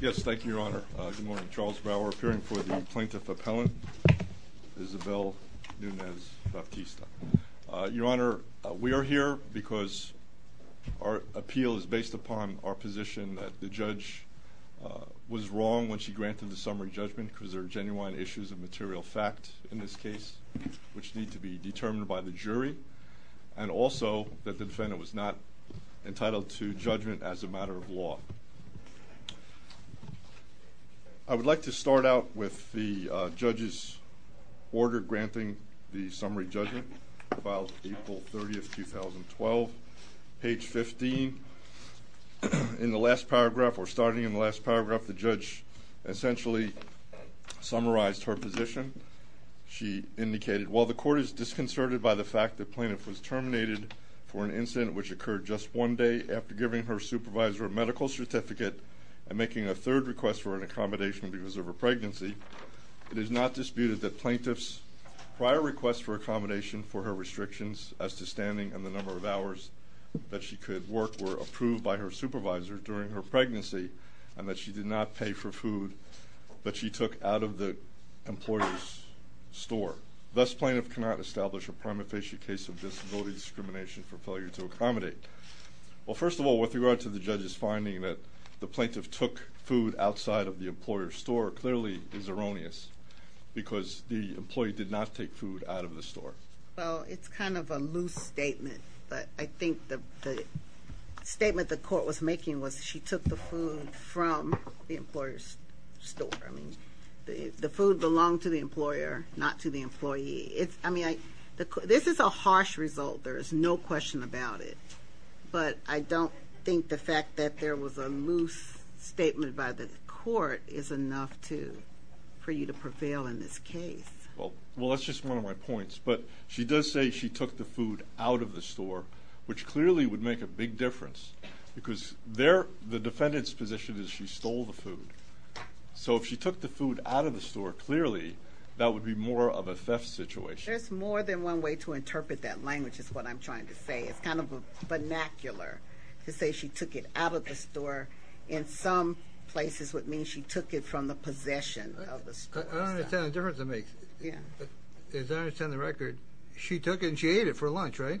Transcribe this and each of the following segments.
Yes, thank you, Your Honor. Good morning. Charles Brower, appearing for the Plaintiff Appellant, Isabella Nunes-Baptista. Your Honor, we are here because our appeal is based upon our position that the judge was wrong when she granted the summary judgment, because there are genuine issues of material fact in this case, which need to be determined by the jury, and also that the defendant was not entitled to judgment as a matter of law. I would like to start out with the judge's order granting the summary judgment, filed April 30, 2012, page 15. In the last paragraph, or starting in the last paragraph, the judge essentially summarized her position. She indicated, while the court is disconcerted by the fact the plaintiff was terminated for an incident which occurred just one day after giving her supervisor a medical certificate and making a third request for an accommodation because of her pregnancy, it is not disputed that plaintiff's prior requests for accommodation for her restrictions as to standing and the number of hours that she could work were approved by her supervisor during her pregnancy and that she did not pay for food that she took out of the employer's store. Thus, plaintiff cannot establish a prima facie case of disability discrimination for failure to accommodate. Well, first of all, with regard to the judge's finding that the plaintiff took food outside of the employer's store, clearly is erroneous because the employee did not take food out of the store. Well, it's kind of a loose statement, but I think the statement the court was making was she took the food from the employer's store. I mean, the food belonged to the employer, not to the employee. I mean, this is a harsh result. There is no question about it. But I don't think the fact that there was a loose statement by the court is enough for you to prevail in this case. Well, that's just one of my points, but she does say she took the food out of the store, which clearly would make a big difference because the defendant's position is she stole the food. So if she took the food out of the store, clearly that would be more of a theft situation. There's more than one way to interpret that language is what I'm trying to say. It's kind of a vernacular to say she took it out of the store. In some places, it would mean she took it from the possession of the store. I don't understand the difference it makes. As I understand the record, she took it and she ate it for lunch, right?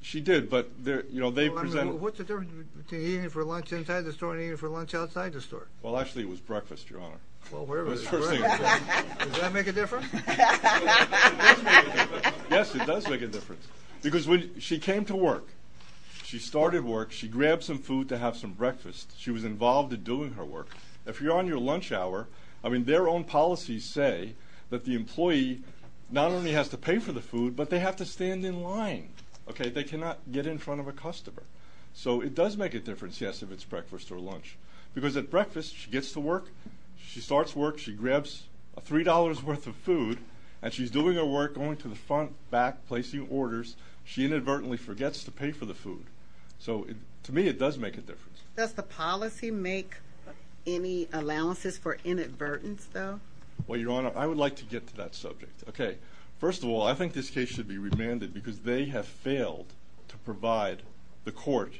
She did, but they presented it. What's the difference between eating it for lunch inside the store and eating it for lunch outside the store? Well, actually, it was breakfast, Your Honor. Well, whatever. Does that make a difference? It does make a difference. Yes, it does make a difference because when she came to work, she started work. She grabbed some food to have some breakfast. She was involved in doing her work. If you're on your lunch hour, I mean, their own policies say that the employee not only has to pay for the food, but they have to stand in line. They cannot get in front of a customer. So it does make a difference, yes, if it's breakfast or lunch. Because at breakfast, she gets to work. She starts work. She grabs $3 worth of food, and she's doing her work, going to the front, back, placing orders. She inadvertently forgets to pay for the food. So to me, it does make a difference. Does the policy make any allowances for inadvertence, though? Well, Your Honor, I would like to get to that subject. Okay. First of all, I think this case should be remanded because they have failed to provide the court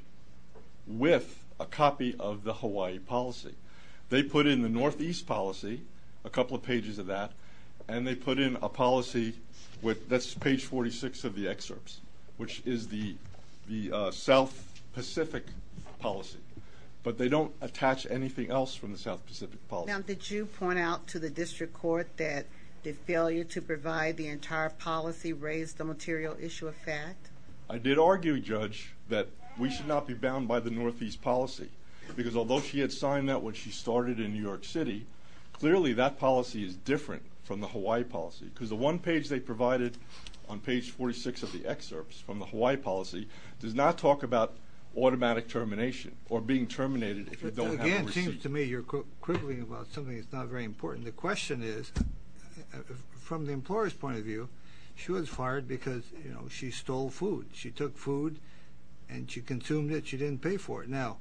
with a copy of the Hawaii policy. They put in the Northeast policy, a couple of pages of that, and they put in a policy that's page 46 of the excerpts, which is the South Pacific policy. But they don't attach anything else from the South Pacific policy. Now, did you point out to the district court that the failure to provide the entire policy raised the material issue of fact? I did argue, Judge, that we should not be bound by the Northeast policy. Because although she had signed that when she started in New York City, clearly that policy is different from the Hawaii policy. Because the one page they provided on page 46 of the excerpts from the Hawaii policy does not talk about automatic termination or being terminated if you don't have a receipt. Again, it seems to me you're quibbling about something that's not very important. The question is, from the employer's point of view, she was fired because, you know, she stole food. She took food, and she consumed it. She didn't pay for it. Now,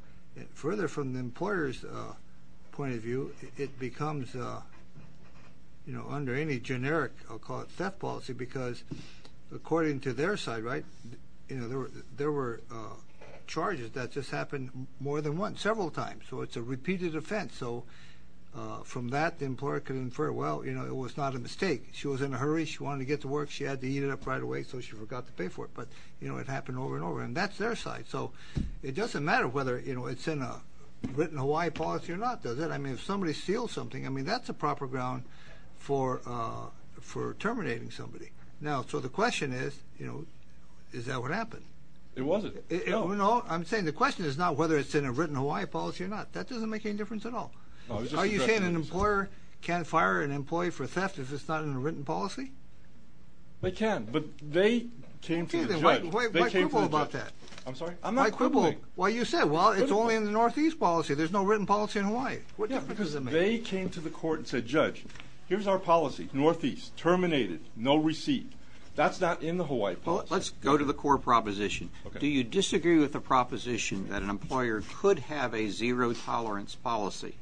further from the employer's point of view, it becomes, you know, under any generic, I'll call it theft policy, because according to their side, right, you know, there were charges that just happened more than once, several times. So it's a repeated offense. So from that, the employer could infer, well, you know, it was not a mistake. She was in a hurry. She wanted to get to work. She had to eat it up right away, so she forgot to pay for it. But, you know, it happened over and over. And that's their side. So it doesn't matter whether, you know, it's in a written Hawaii policy or not, does it? I mean, if somebody steals something, I mean, that's a proper ground for terminating somebody. Now, so the question is, you know, is that what happened? It wasn't. No, I'm saying the question is not whether it's in a written Hawaii policy or not. That doesn't make any difference at all. Are you saying an employer can't fire an employee for theft if it's not in a written policy? They can, but they came to the judge. Why quibble about that? I'm sorry? I'm not quibbling. Why quibble? Well, you said, well, it's only in the Northeast policy. There's no written policy in Hawaii. What difference does it make? Yeah, because they came to the court and said, Judge, here's our policy, Northeast, terminated, no receipt. That's not in the Hawaii policy. Well, let's go to the core proposition. Do you disagree with the proposition that an employer could have a zero-tolerance policy,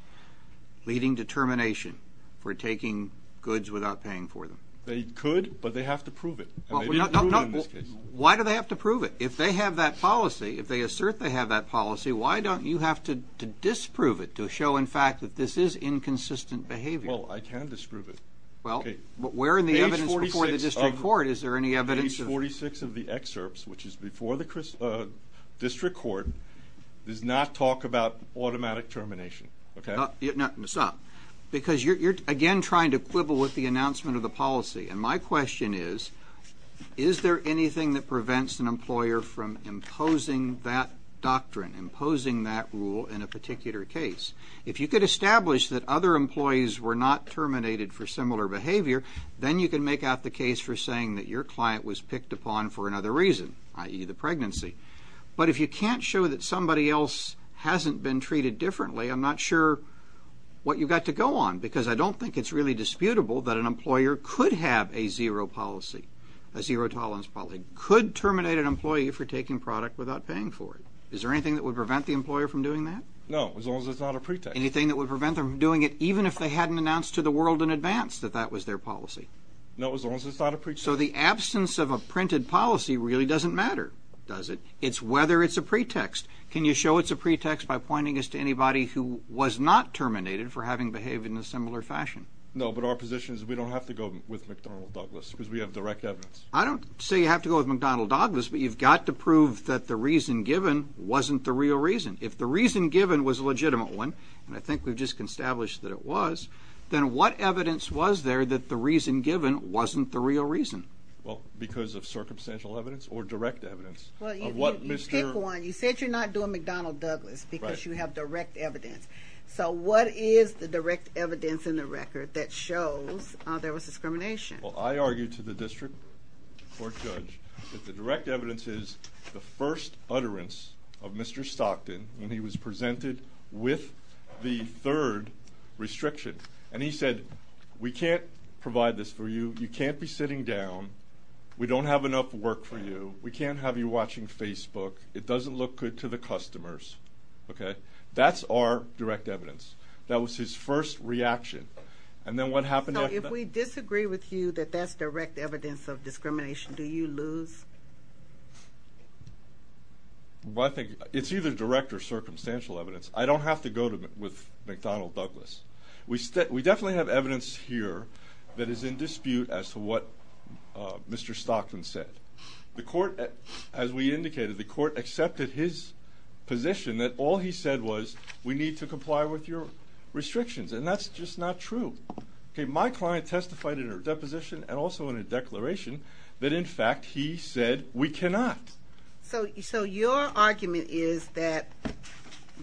leading to termination for taking goods without paying for them? They could, but they have to prove it. Why do they have to prove it? If they have that policy, if they assert they have that policy, why don't you have to disprove it to show, in fact, that this is inconsistent behavior? Well, I can disprove it. Well, where are the evidence before the district court? Is there any evidence? Page 46 of the excerpts, which is before the district court, does not talk about automatic termination. Stop, because you're, again, trying to quibble with the announcement of the policy. And my question is, is there anything that prevents an employer from imposing that doctrine, imposing that rule in a particular case? If you could establish that other employees were not terminated for similar behavior, then you can make out the case for saying that your client was picked upon for another reason, i.e., the pregnancy. But if you can't show that somebody else hasn't been treated differently, I'm not sure what you've got to go on, because I don't think it's really disputable that an employer could have a zero policy, a zero-tolerance policy, could terminate an employee for taking product without paying for it. Is there anything that would prevent the employer from doing that? No, as long as it's not a pretext. Anything that would prevent them from doing it, even if they hadn't announced to the world in advance that that was their policy? No, as long as it's not a pretext. So the absence of a printed policy really doesn't matter, does it? It's whether it's a pretext. Can you show it's a pretext by pointing us to anybody who was not terminated for having behaved in a similar fashion? No, but our position is we don't have to go with McDonnell Douglas because we have direct evidence. I don't say you have to go with McDonnell Douglas, but you've got to prove that the reason given wasn't the real reason. If the reason given was a legitimate one, and I think we've just established that it was, then what evidence was there that the reason given wasn't the real reason? Well, because of circumstantial evidence or direct evidence of what Mr. Kwan, you said you're not doing McDonnell Douglas because you have direct evidence. So what is the direct evidence in the record that shows there was discrimination? Well, I argued to the district court judge that the direct evidence is the first utterance of Mr. Stockton when he was presented with the third restriction. And he said, we can't provide this for you. You can't be sitting down. We don't have enough work for you. We can't have you watching Facebook. It doesn't look good to the customers. That's our direct evidence. That was his first reaction. So if we disagree with you that that's direct evidence of discrimination, do you lose? It's either direct or circumstantial evidence. I don't have to go with McDonnell Douglas. We definitely have evidence here that is in dispute as to what Mr. Stockton said. The court, as we indicated, the court accepted his position that all he said was we need to comply with your restrictions. And that's just not true. My client testified in her deposition and also in a declaration that, in fact, he said we cannot. So your argument is that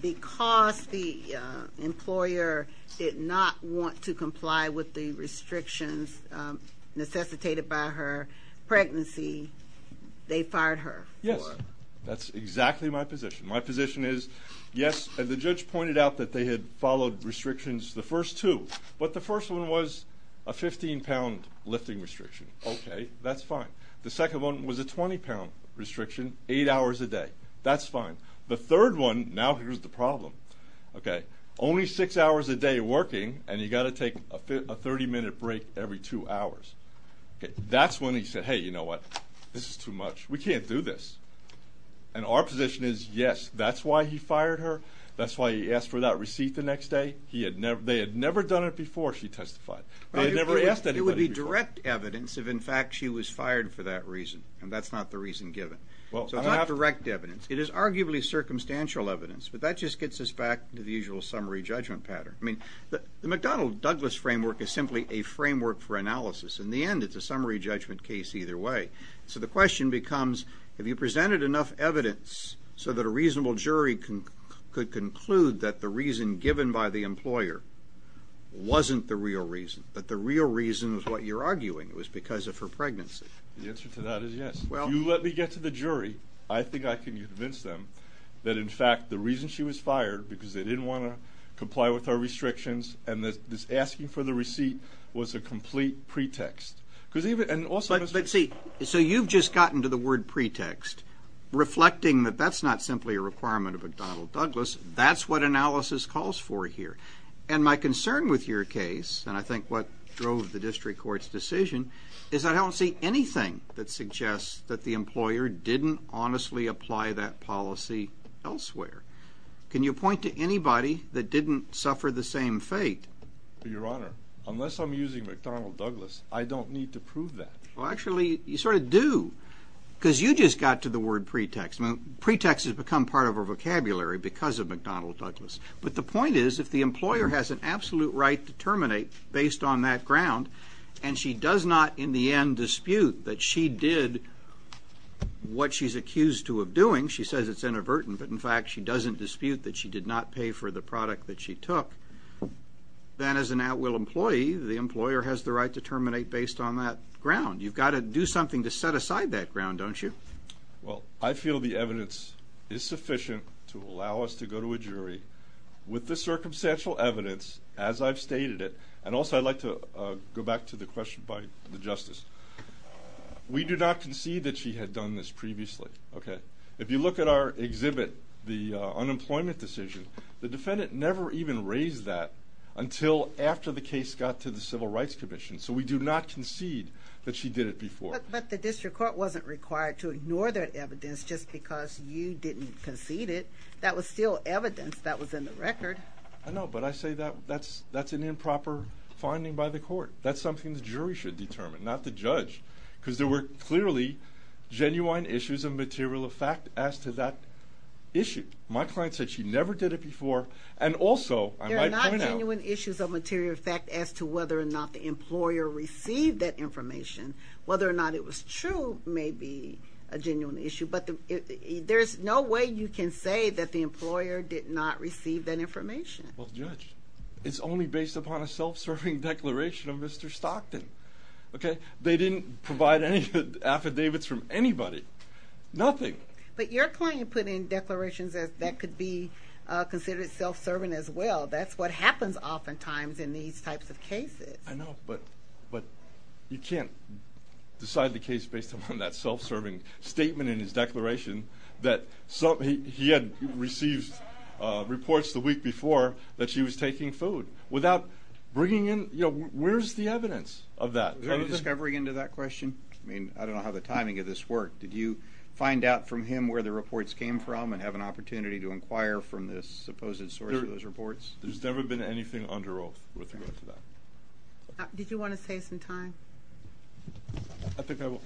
because the employer did not want to comply with the restrictions necessitated by her pregnancy, they fired her? Yes. That's exactly my position. My position is, yes, the judge pointed out that they had followed restrictions the first two. But the first one was a 15-pound lifting restriction. Okay. That's fine. The second one was a 20-pound restriction, eight hours a day. That's fine. The third one, now here's the problem, okay, only six hours a day working, and you've got to take a 30-minute break every two hours. That's when he said, hey, you know what, this is too much. We can't do this. And our position is, yes, that's why he fired her. That's why he asked for that receipt the next day. They had never done it before, she testified. They had never asked anybody before. So it's not direct evidence if, in fact, she was fired for that reason, and that's not the reason given. So it's not direct evidence. It is arguably circumstantial evidence, but that just gets us back to the usual summary judgment pattern. I mean, the McDonnell-Douglas framework is simply a framework for analysis. In the end, it's a summary judgment case either way. So the question becomes, have you presented enough evidence so that a reasonable jury could conclude that the reason given by the employer wasn't the real reason, that the real reason was what you're arguing, it was because of her pregnancy? The answer to that is yes. If you let me get to the jury, I think I can convince them that, in fact, the reason she was fired, because they didn't want to comply with our restrictions, and this asking for the receipt was a complete pretext. Because even also— But, see, so you've just gotten to the word pretext, reflecting that that's not simply a requirement of McDonnell-Douglas. That's what analysis calls for here. And my concern with your case, and I think what drove the district court's decision, is I don't see anything that suggests that the employer didn't honestly apply that policy elsewhere. Can you point to anybody that didn't suffer the same fate? Your Honor, unless I'm using McDonnell-Douglas, I don't need to prove that. Well, actually, you sort of do, because you just got to the word pretext. I mean, pretext has become part of our vocabulary because of McDonnell-Douglas. But the point is, if the employer has an absolute right to terminate based on that ground, and she does not, in the end, dispute that she did what she's accused of doing, she says it's inadvertent, but, in fact, she doesn't dispute that she did not pay for the product that she took, then, as an at-will employee, the employer has the right to terminate based on that ground. You've got to do something to set aside that ground, don't you? Well, I feel the evidence is sufficient to allow us to go to a jury. With the circumstantial evidence, as I've stated it, and also I'd like to go back to the question by the Justice. We do not concede that she had done this previously. If you look at our exhibit, the unemployment decision, the defendant never even raised that until after the case got to the Civil Rights Commission. So we do not concede that she did it before. But the district court wasn't required to ignore that evidence just because you didn't concede it. That was still evidence that was in the record. I know, but I say that's an improper finding by the court. That's something the jury should determine, not the judge, because there were clearly genuine issues of material effect as to that issue. My client said she never did it before, and also, I might point out— There are not genuine issues of material effect as to whether or not the employer received that information, whether or not it was true may be a genuine issue, but there's no way you can say that the employer did not receive that information. Well, Judge, it's only based upon a self-serving declaration of Mr. Stockton, okay? They didn't provide any affidavits from anybody, nothing. But your client put in declarations that could be considered self-serving as well. That's what happens oftentimes in these types of cases. I know, but you can't decide the case based upon that self-serving statement in his declaration that he had received reports the week before that she was taking food. Without bringing in—you know, where's the evidence of that? Any discovery into that question? I mean, I don't know how the timing of this worked. Did you find out from him where the reports came from and have an opportunity to inquire from the supposed source of those reports? There's never been anything under oath with regard to that. Did you want to save some time? I think I will.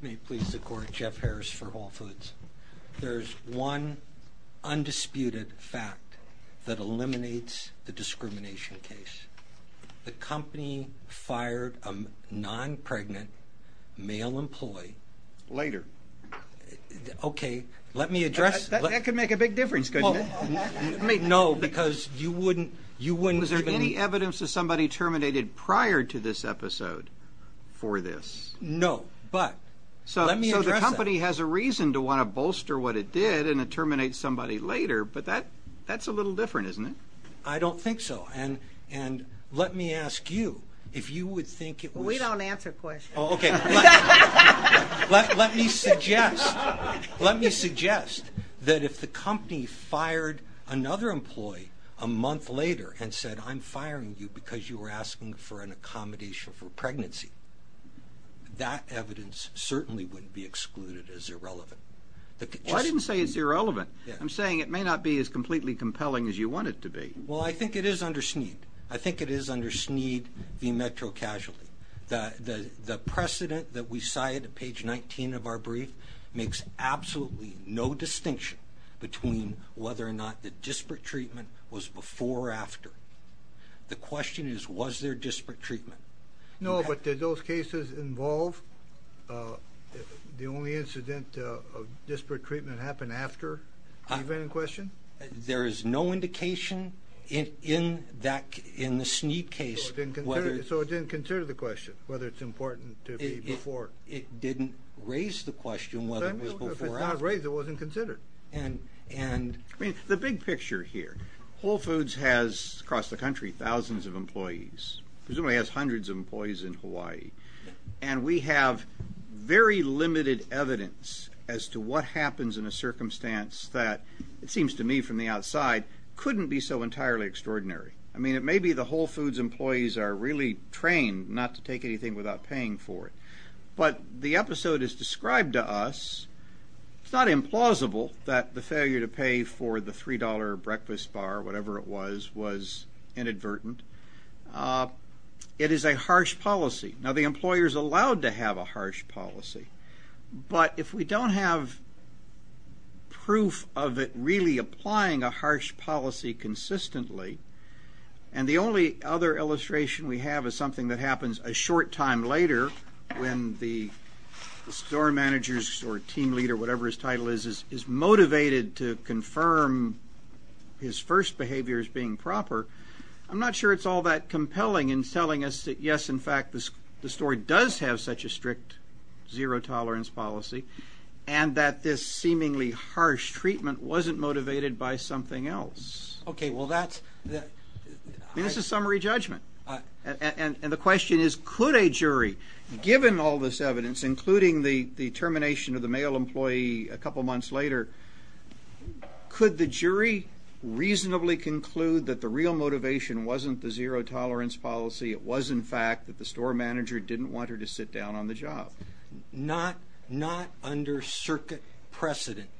May it please the Court, Jeff Harris for Whole Foods. There's one undisputed fact that eliminates the discrimination case. The company fired a non-pregnant male employee. Later. Okay, let me address— That could make a big difference, couldn't it? No, because you wouldn't— Was there any evidence that somebody terminated prior to this episode for this? No, but let me address that. So the company has a reason to want to bolster what it did and terminate somebody later, but that's a little different, isn't it? I don't think so. And let me ask you if you would think it was— We don't answer questions. Okay. Let me suggest that if the company fired another employee a month later and said, I'm firing you because you were asking for an accommodation for pregnancy, that evidence certainly wouldn't be excluded as irrelevant. Well, I didn't say it's irrelevant. I'm saying it may not be as completely compelling as you want it to be. Well, I think it is under SNEED. I think it is under SNEED v. Metro Casualty. The precedent that we cite at page 19 of our brief makes absolutely no distinction between whether or not the disparate treatment was before or after. The question is, was there disparate treatment? No, but did those cases involve the only incident of disparate treatment happened after the event in question? There is no indication in the SNEED case whether— So it didn't consider the question whether it's important to be before. It didn't raise the question whether it was before or after. If it's not raised, it wasn't considered. The big picture here, Whole Foods has across the country thousands of employees, presumably has hundreds of employees in Hawaii, and we have very limited evidence as to what happens in a circumstance that, it seems to me from the outside, couldn't be so entirely extraordinary. I mean, it may be the Whole Foods employees are really trained not to take anything without paying for it, but the episode is described to us. It's not implausible that the failure to pay for the $3 breakfast bar, whatever it was, was inadvertent. It is a harsh policy. Now, the employer is allowed to have a harsh policy, but if we don't have proof of it really applying a harsh policy consistently, and the only other illustration we have is something that happens a short time later when the store manager or team leader, whatever his title is, is motivated to confirm his first behavior as being proper, I'm not sure it's all that compelling in telling us that, yes, in fact, the store does have such a strict zero-tolerance policy and that this seemingly harsh treatment wasn't motivated by something else. Okay, well, that's... I mean, this is summary judgment. And the question is, could a jury, given all this evidence, including the termination of the male employee a couple months later, could the jury reasonably conclude that the real motivation wasn't the zero-tolerance policy, it was, in fact, that the store manager didn't want her to sit down on the job? Not under circuit precedent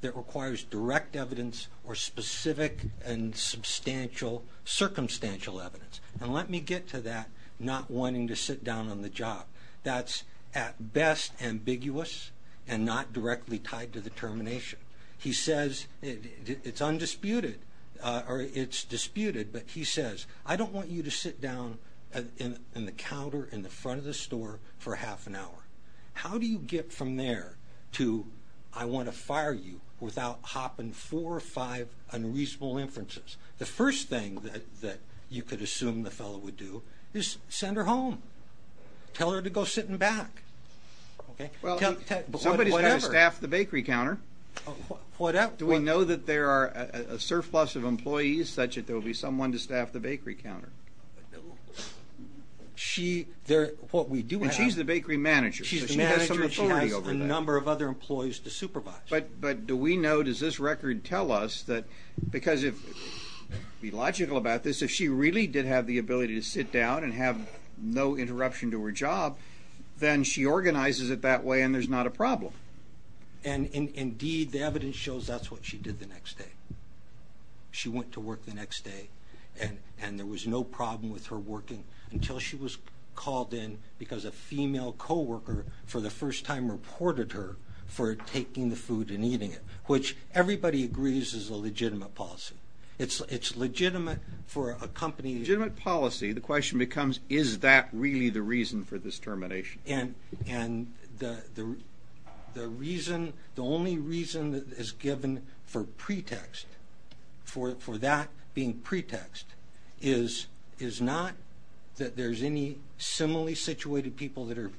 that requires direct evidence or specific and substantial circumstantial evidence. And let me get to that, not wanting to sit down on the job. That's at best ambiguous and not directly tied to the termination. He says it's undisputed, or it's disputed, but he says, I don't want you to sit down in the counter in the front of the store for half an hour. How do you get from there to, I want to fire you, without hopping four or five unreasonable inferences? The first thing that you could assume the fellow would do is send her home. Tell her to go sit in the back. Well, somebody's got to staff the bakery counter. Do we know that there are a surplus of employees such that there will be someone to staff the bakery counter? She, what we do have. And she's the bakery manager. She's the manager. She has some authority over that. She has a number of other employees to supervise. But do we know, does this record tell us that, because if, to be logical about this, if she really did have the ability to sit down and have no interruption to her job, then she organizes it that way and there's not a problem. And, indeed, the evidence shows that's what she did the next day. She went to work the next day and there was no problem with her working until she was called in because a female co-worker for the first time reported her for taking the food and eating it, which everybody agrees is a legitimate policy. It's legitimate for a company. Legitimate policy, the question becomes, is that really the reason for this termination? And the reason, the only reason that is given for pretext, for that being pretext, is not that there's any similarly situated people that are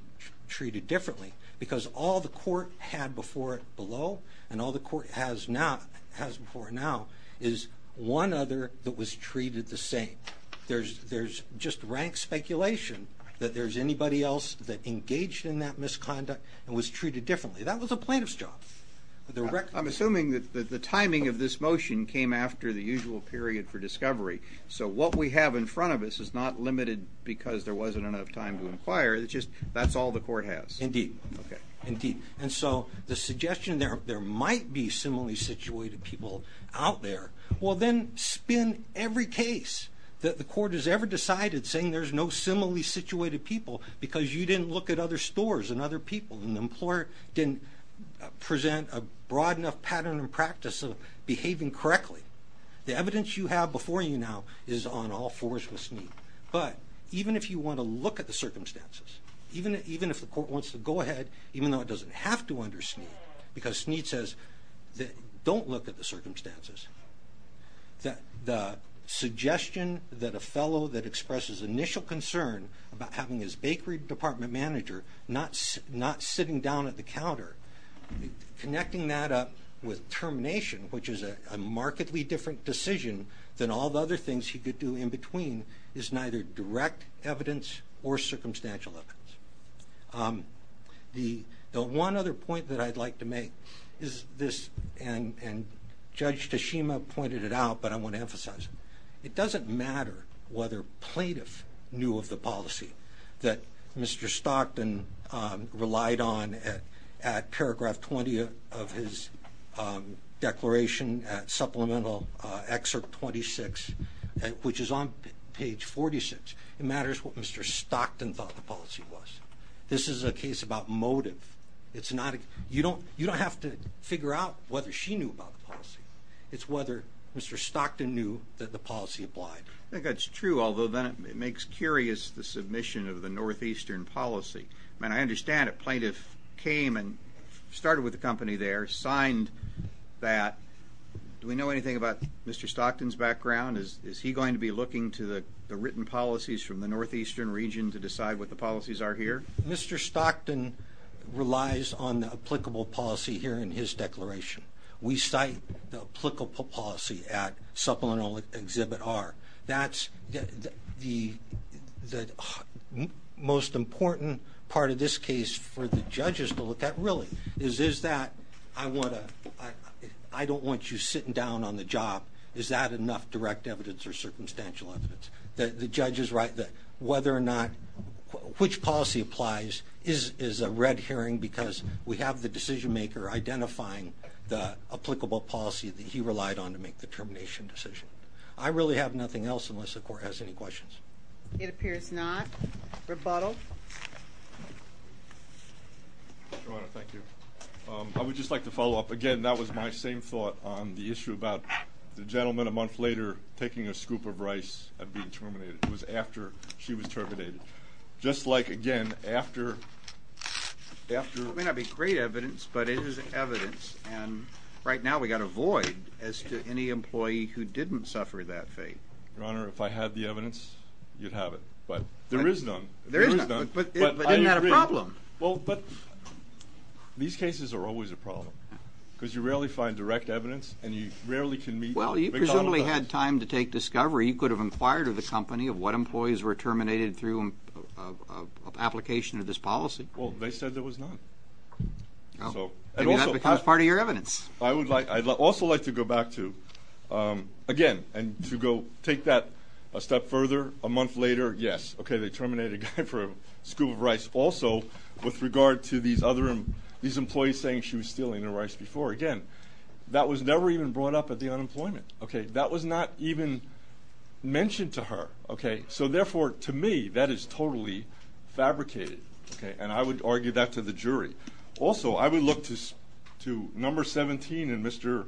treated differently because all the court had before it below and all the court has now, has before now, is one other that was treated the same. There's just rank speculation that there's anybody else that engaged in that misconduct and was treated differently. That was a plaintiff's job. I'm assuming that the timing of this motion came after the usual period for discovery. So what we have in front of us is not limited because there wasn't enough time to inquire. It's just that's all the court has. Indeed. Okay. Indeed. And so the suggestion there might be similarly situated people out there Well, then spin every case that the court has ever decided saying there's no similarly situated people because you didn't look at other stores and other people and the employer didn't present a broad enough pattern and practice of behaving correctly. The evidence you have before you now is on all fours with Snead. But even if you want to look at the circumstances, even if the court wants to go ahead, even though it doesn't have to under Snead, because Snead says don't look at the circumstances. The suggestion that a fellow that expresses initial concern about having his bakery department manager not sitting down at the counter, connecting that up with termination, which is a markedly different decision than all the other things he could do in between, is neither direct evidence or circumstantial evidence. The one other point that I'd like to make is this, and Judge Tashima pointed it out, but I want to emphasize it. It doesn't matter whether plaintiff knew of the policy that Mr. Stockton relied on at paragraph 20 of his declaration, supplemental excerpt 26, which is on page 46. It matters what Mr. Stockton thought the policy was. This is a case about motive. You don't have to figure out whether she knew about the policy. It's whether Mr. Stockton knew that the policy applied. I think that's true, although then it makes curious the submission of the Northeastern policy. I understand a plaintiff came and started with the company there, signed that. Do we know anything about Mr. Stockton's background? Is he going to be looking to the written policies from the Northeastern region to decide what the policies are here? Mr. Stockton relies on the applicable policy here in his declaration. We cite the applicable policy at supplemental Exhibit R. That's the most important part of this case for the judges to look at, really, is is that I don't want you sitting down on the job. Is that enough direct evidence or circumstantial evidence that the judge is right, that whether or not which policy applies is is a red herring because we have the decision maker identifying the applicable policy that he relied on to make the termination decision. I really have nothing else unless the court has any questions. It appears not. Rebuttal. Your Honor, thank you. I would just like to follow up. Again, that was my same thought on the issue about the gentleman a month later taking a scoop of rice and being terminated. It was after she was terminated. Just like, again, after It may not be great evidence, but it is evidence. And right now we've got a void as to any employee who didn't suffer that fate. Your Honor, if I had the evidence, you'd have it. There is none. But isn't that a problem? Well, but these cases are always a problem because you rarely find direct evidence and you rarely can meet Well, you presumably had time to take discovery. You could have inquired of the company of what employees were terminated through application of this policy. Well, they said there was none. And that becomes part of your evidence. I would like I'd also like to go back to again and to go take that a step further a month later. Yes. OK, they terminated a guy for a scoop of rice. Also, with regard to these other these employees saying she was stealing the rice before again, that was never even brought up at the unemployment. OK, that was not even mentioned to her. OK, so therefore, to me, that is totally fabricated. OK, and I would argue that to the jury. Also, I would look to to number 17 and Mr.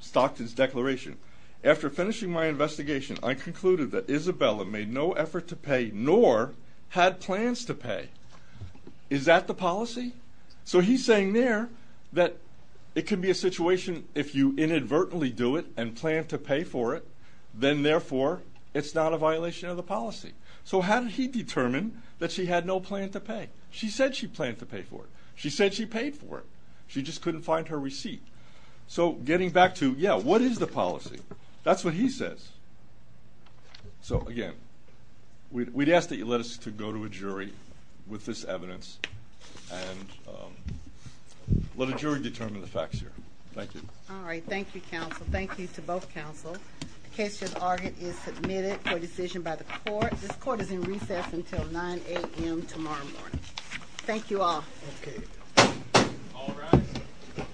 Stockton's declaration. After finishing my investigation, I concluded that Isabella made no effort to pay nor had plans to pay. Is that the policy? So he's saying there that it could be a situation if you inadvertently do it and plan to pay for it. Then therefore, it's not a violation of the policy. So how did he determine that she had no plan to pay? She said she planned to pay for it. She said she paid for it. She just couldn't find her receipt. So getting back to, yeah, what is the policy? That's what he says. So again, we'd ask that you let us to go to a jury with this evidence and let a jury determine the facts here. Thank you. All right. Thank you, counsel. Thank you to both counsel. The case has argued is submitted for decision by the court. This court is in recess until 9 a.m. tomorrow morning. Thank you all. OK. All rise.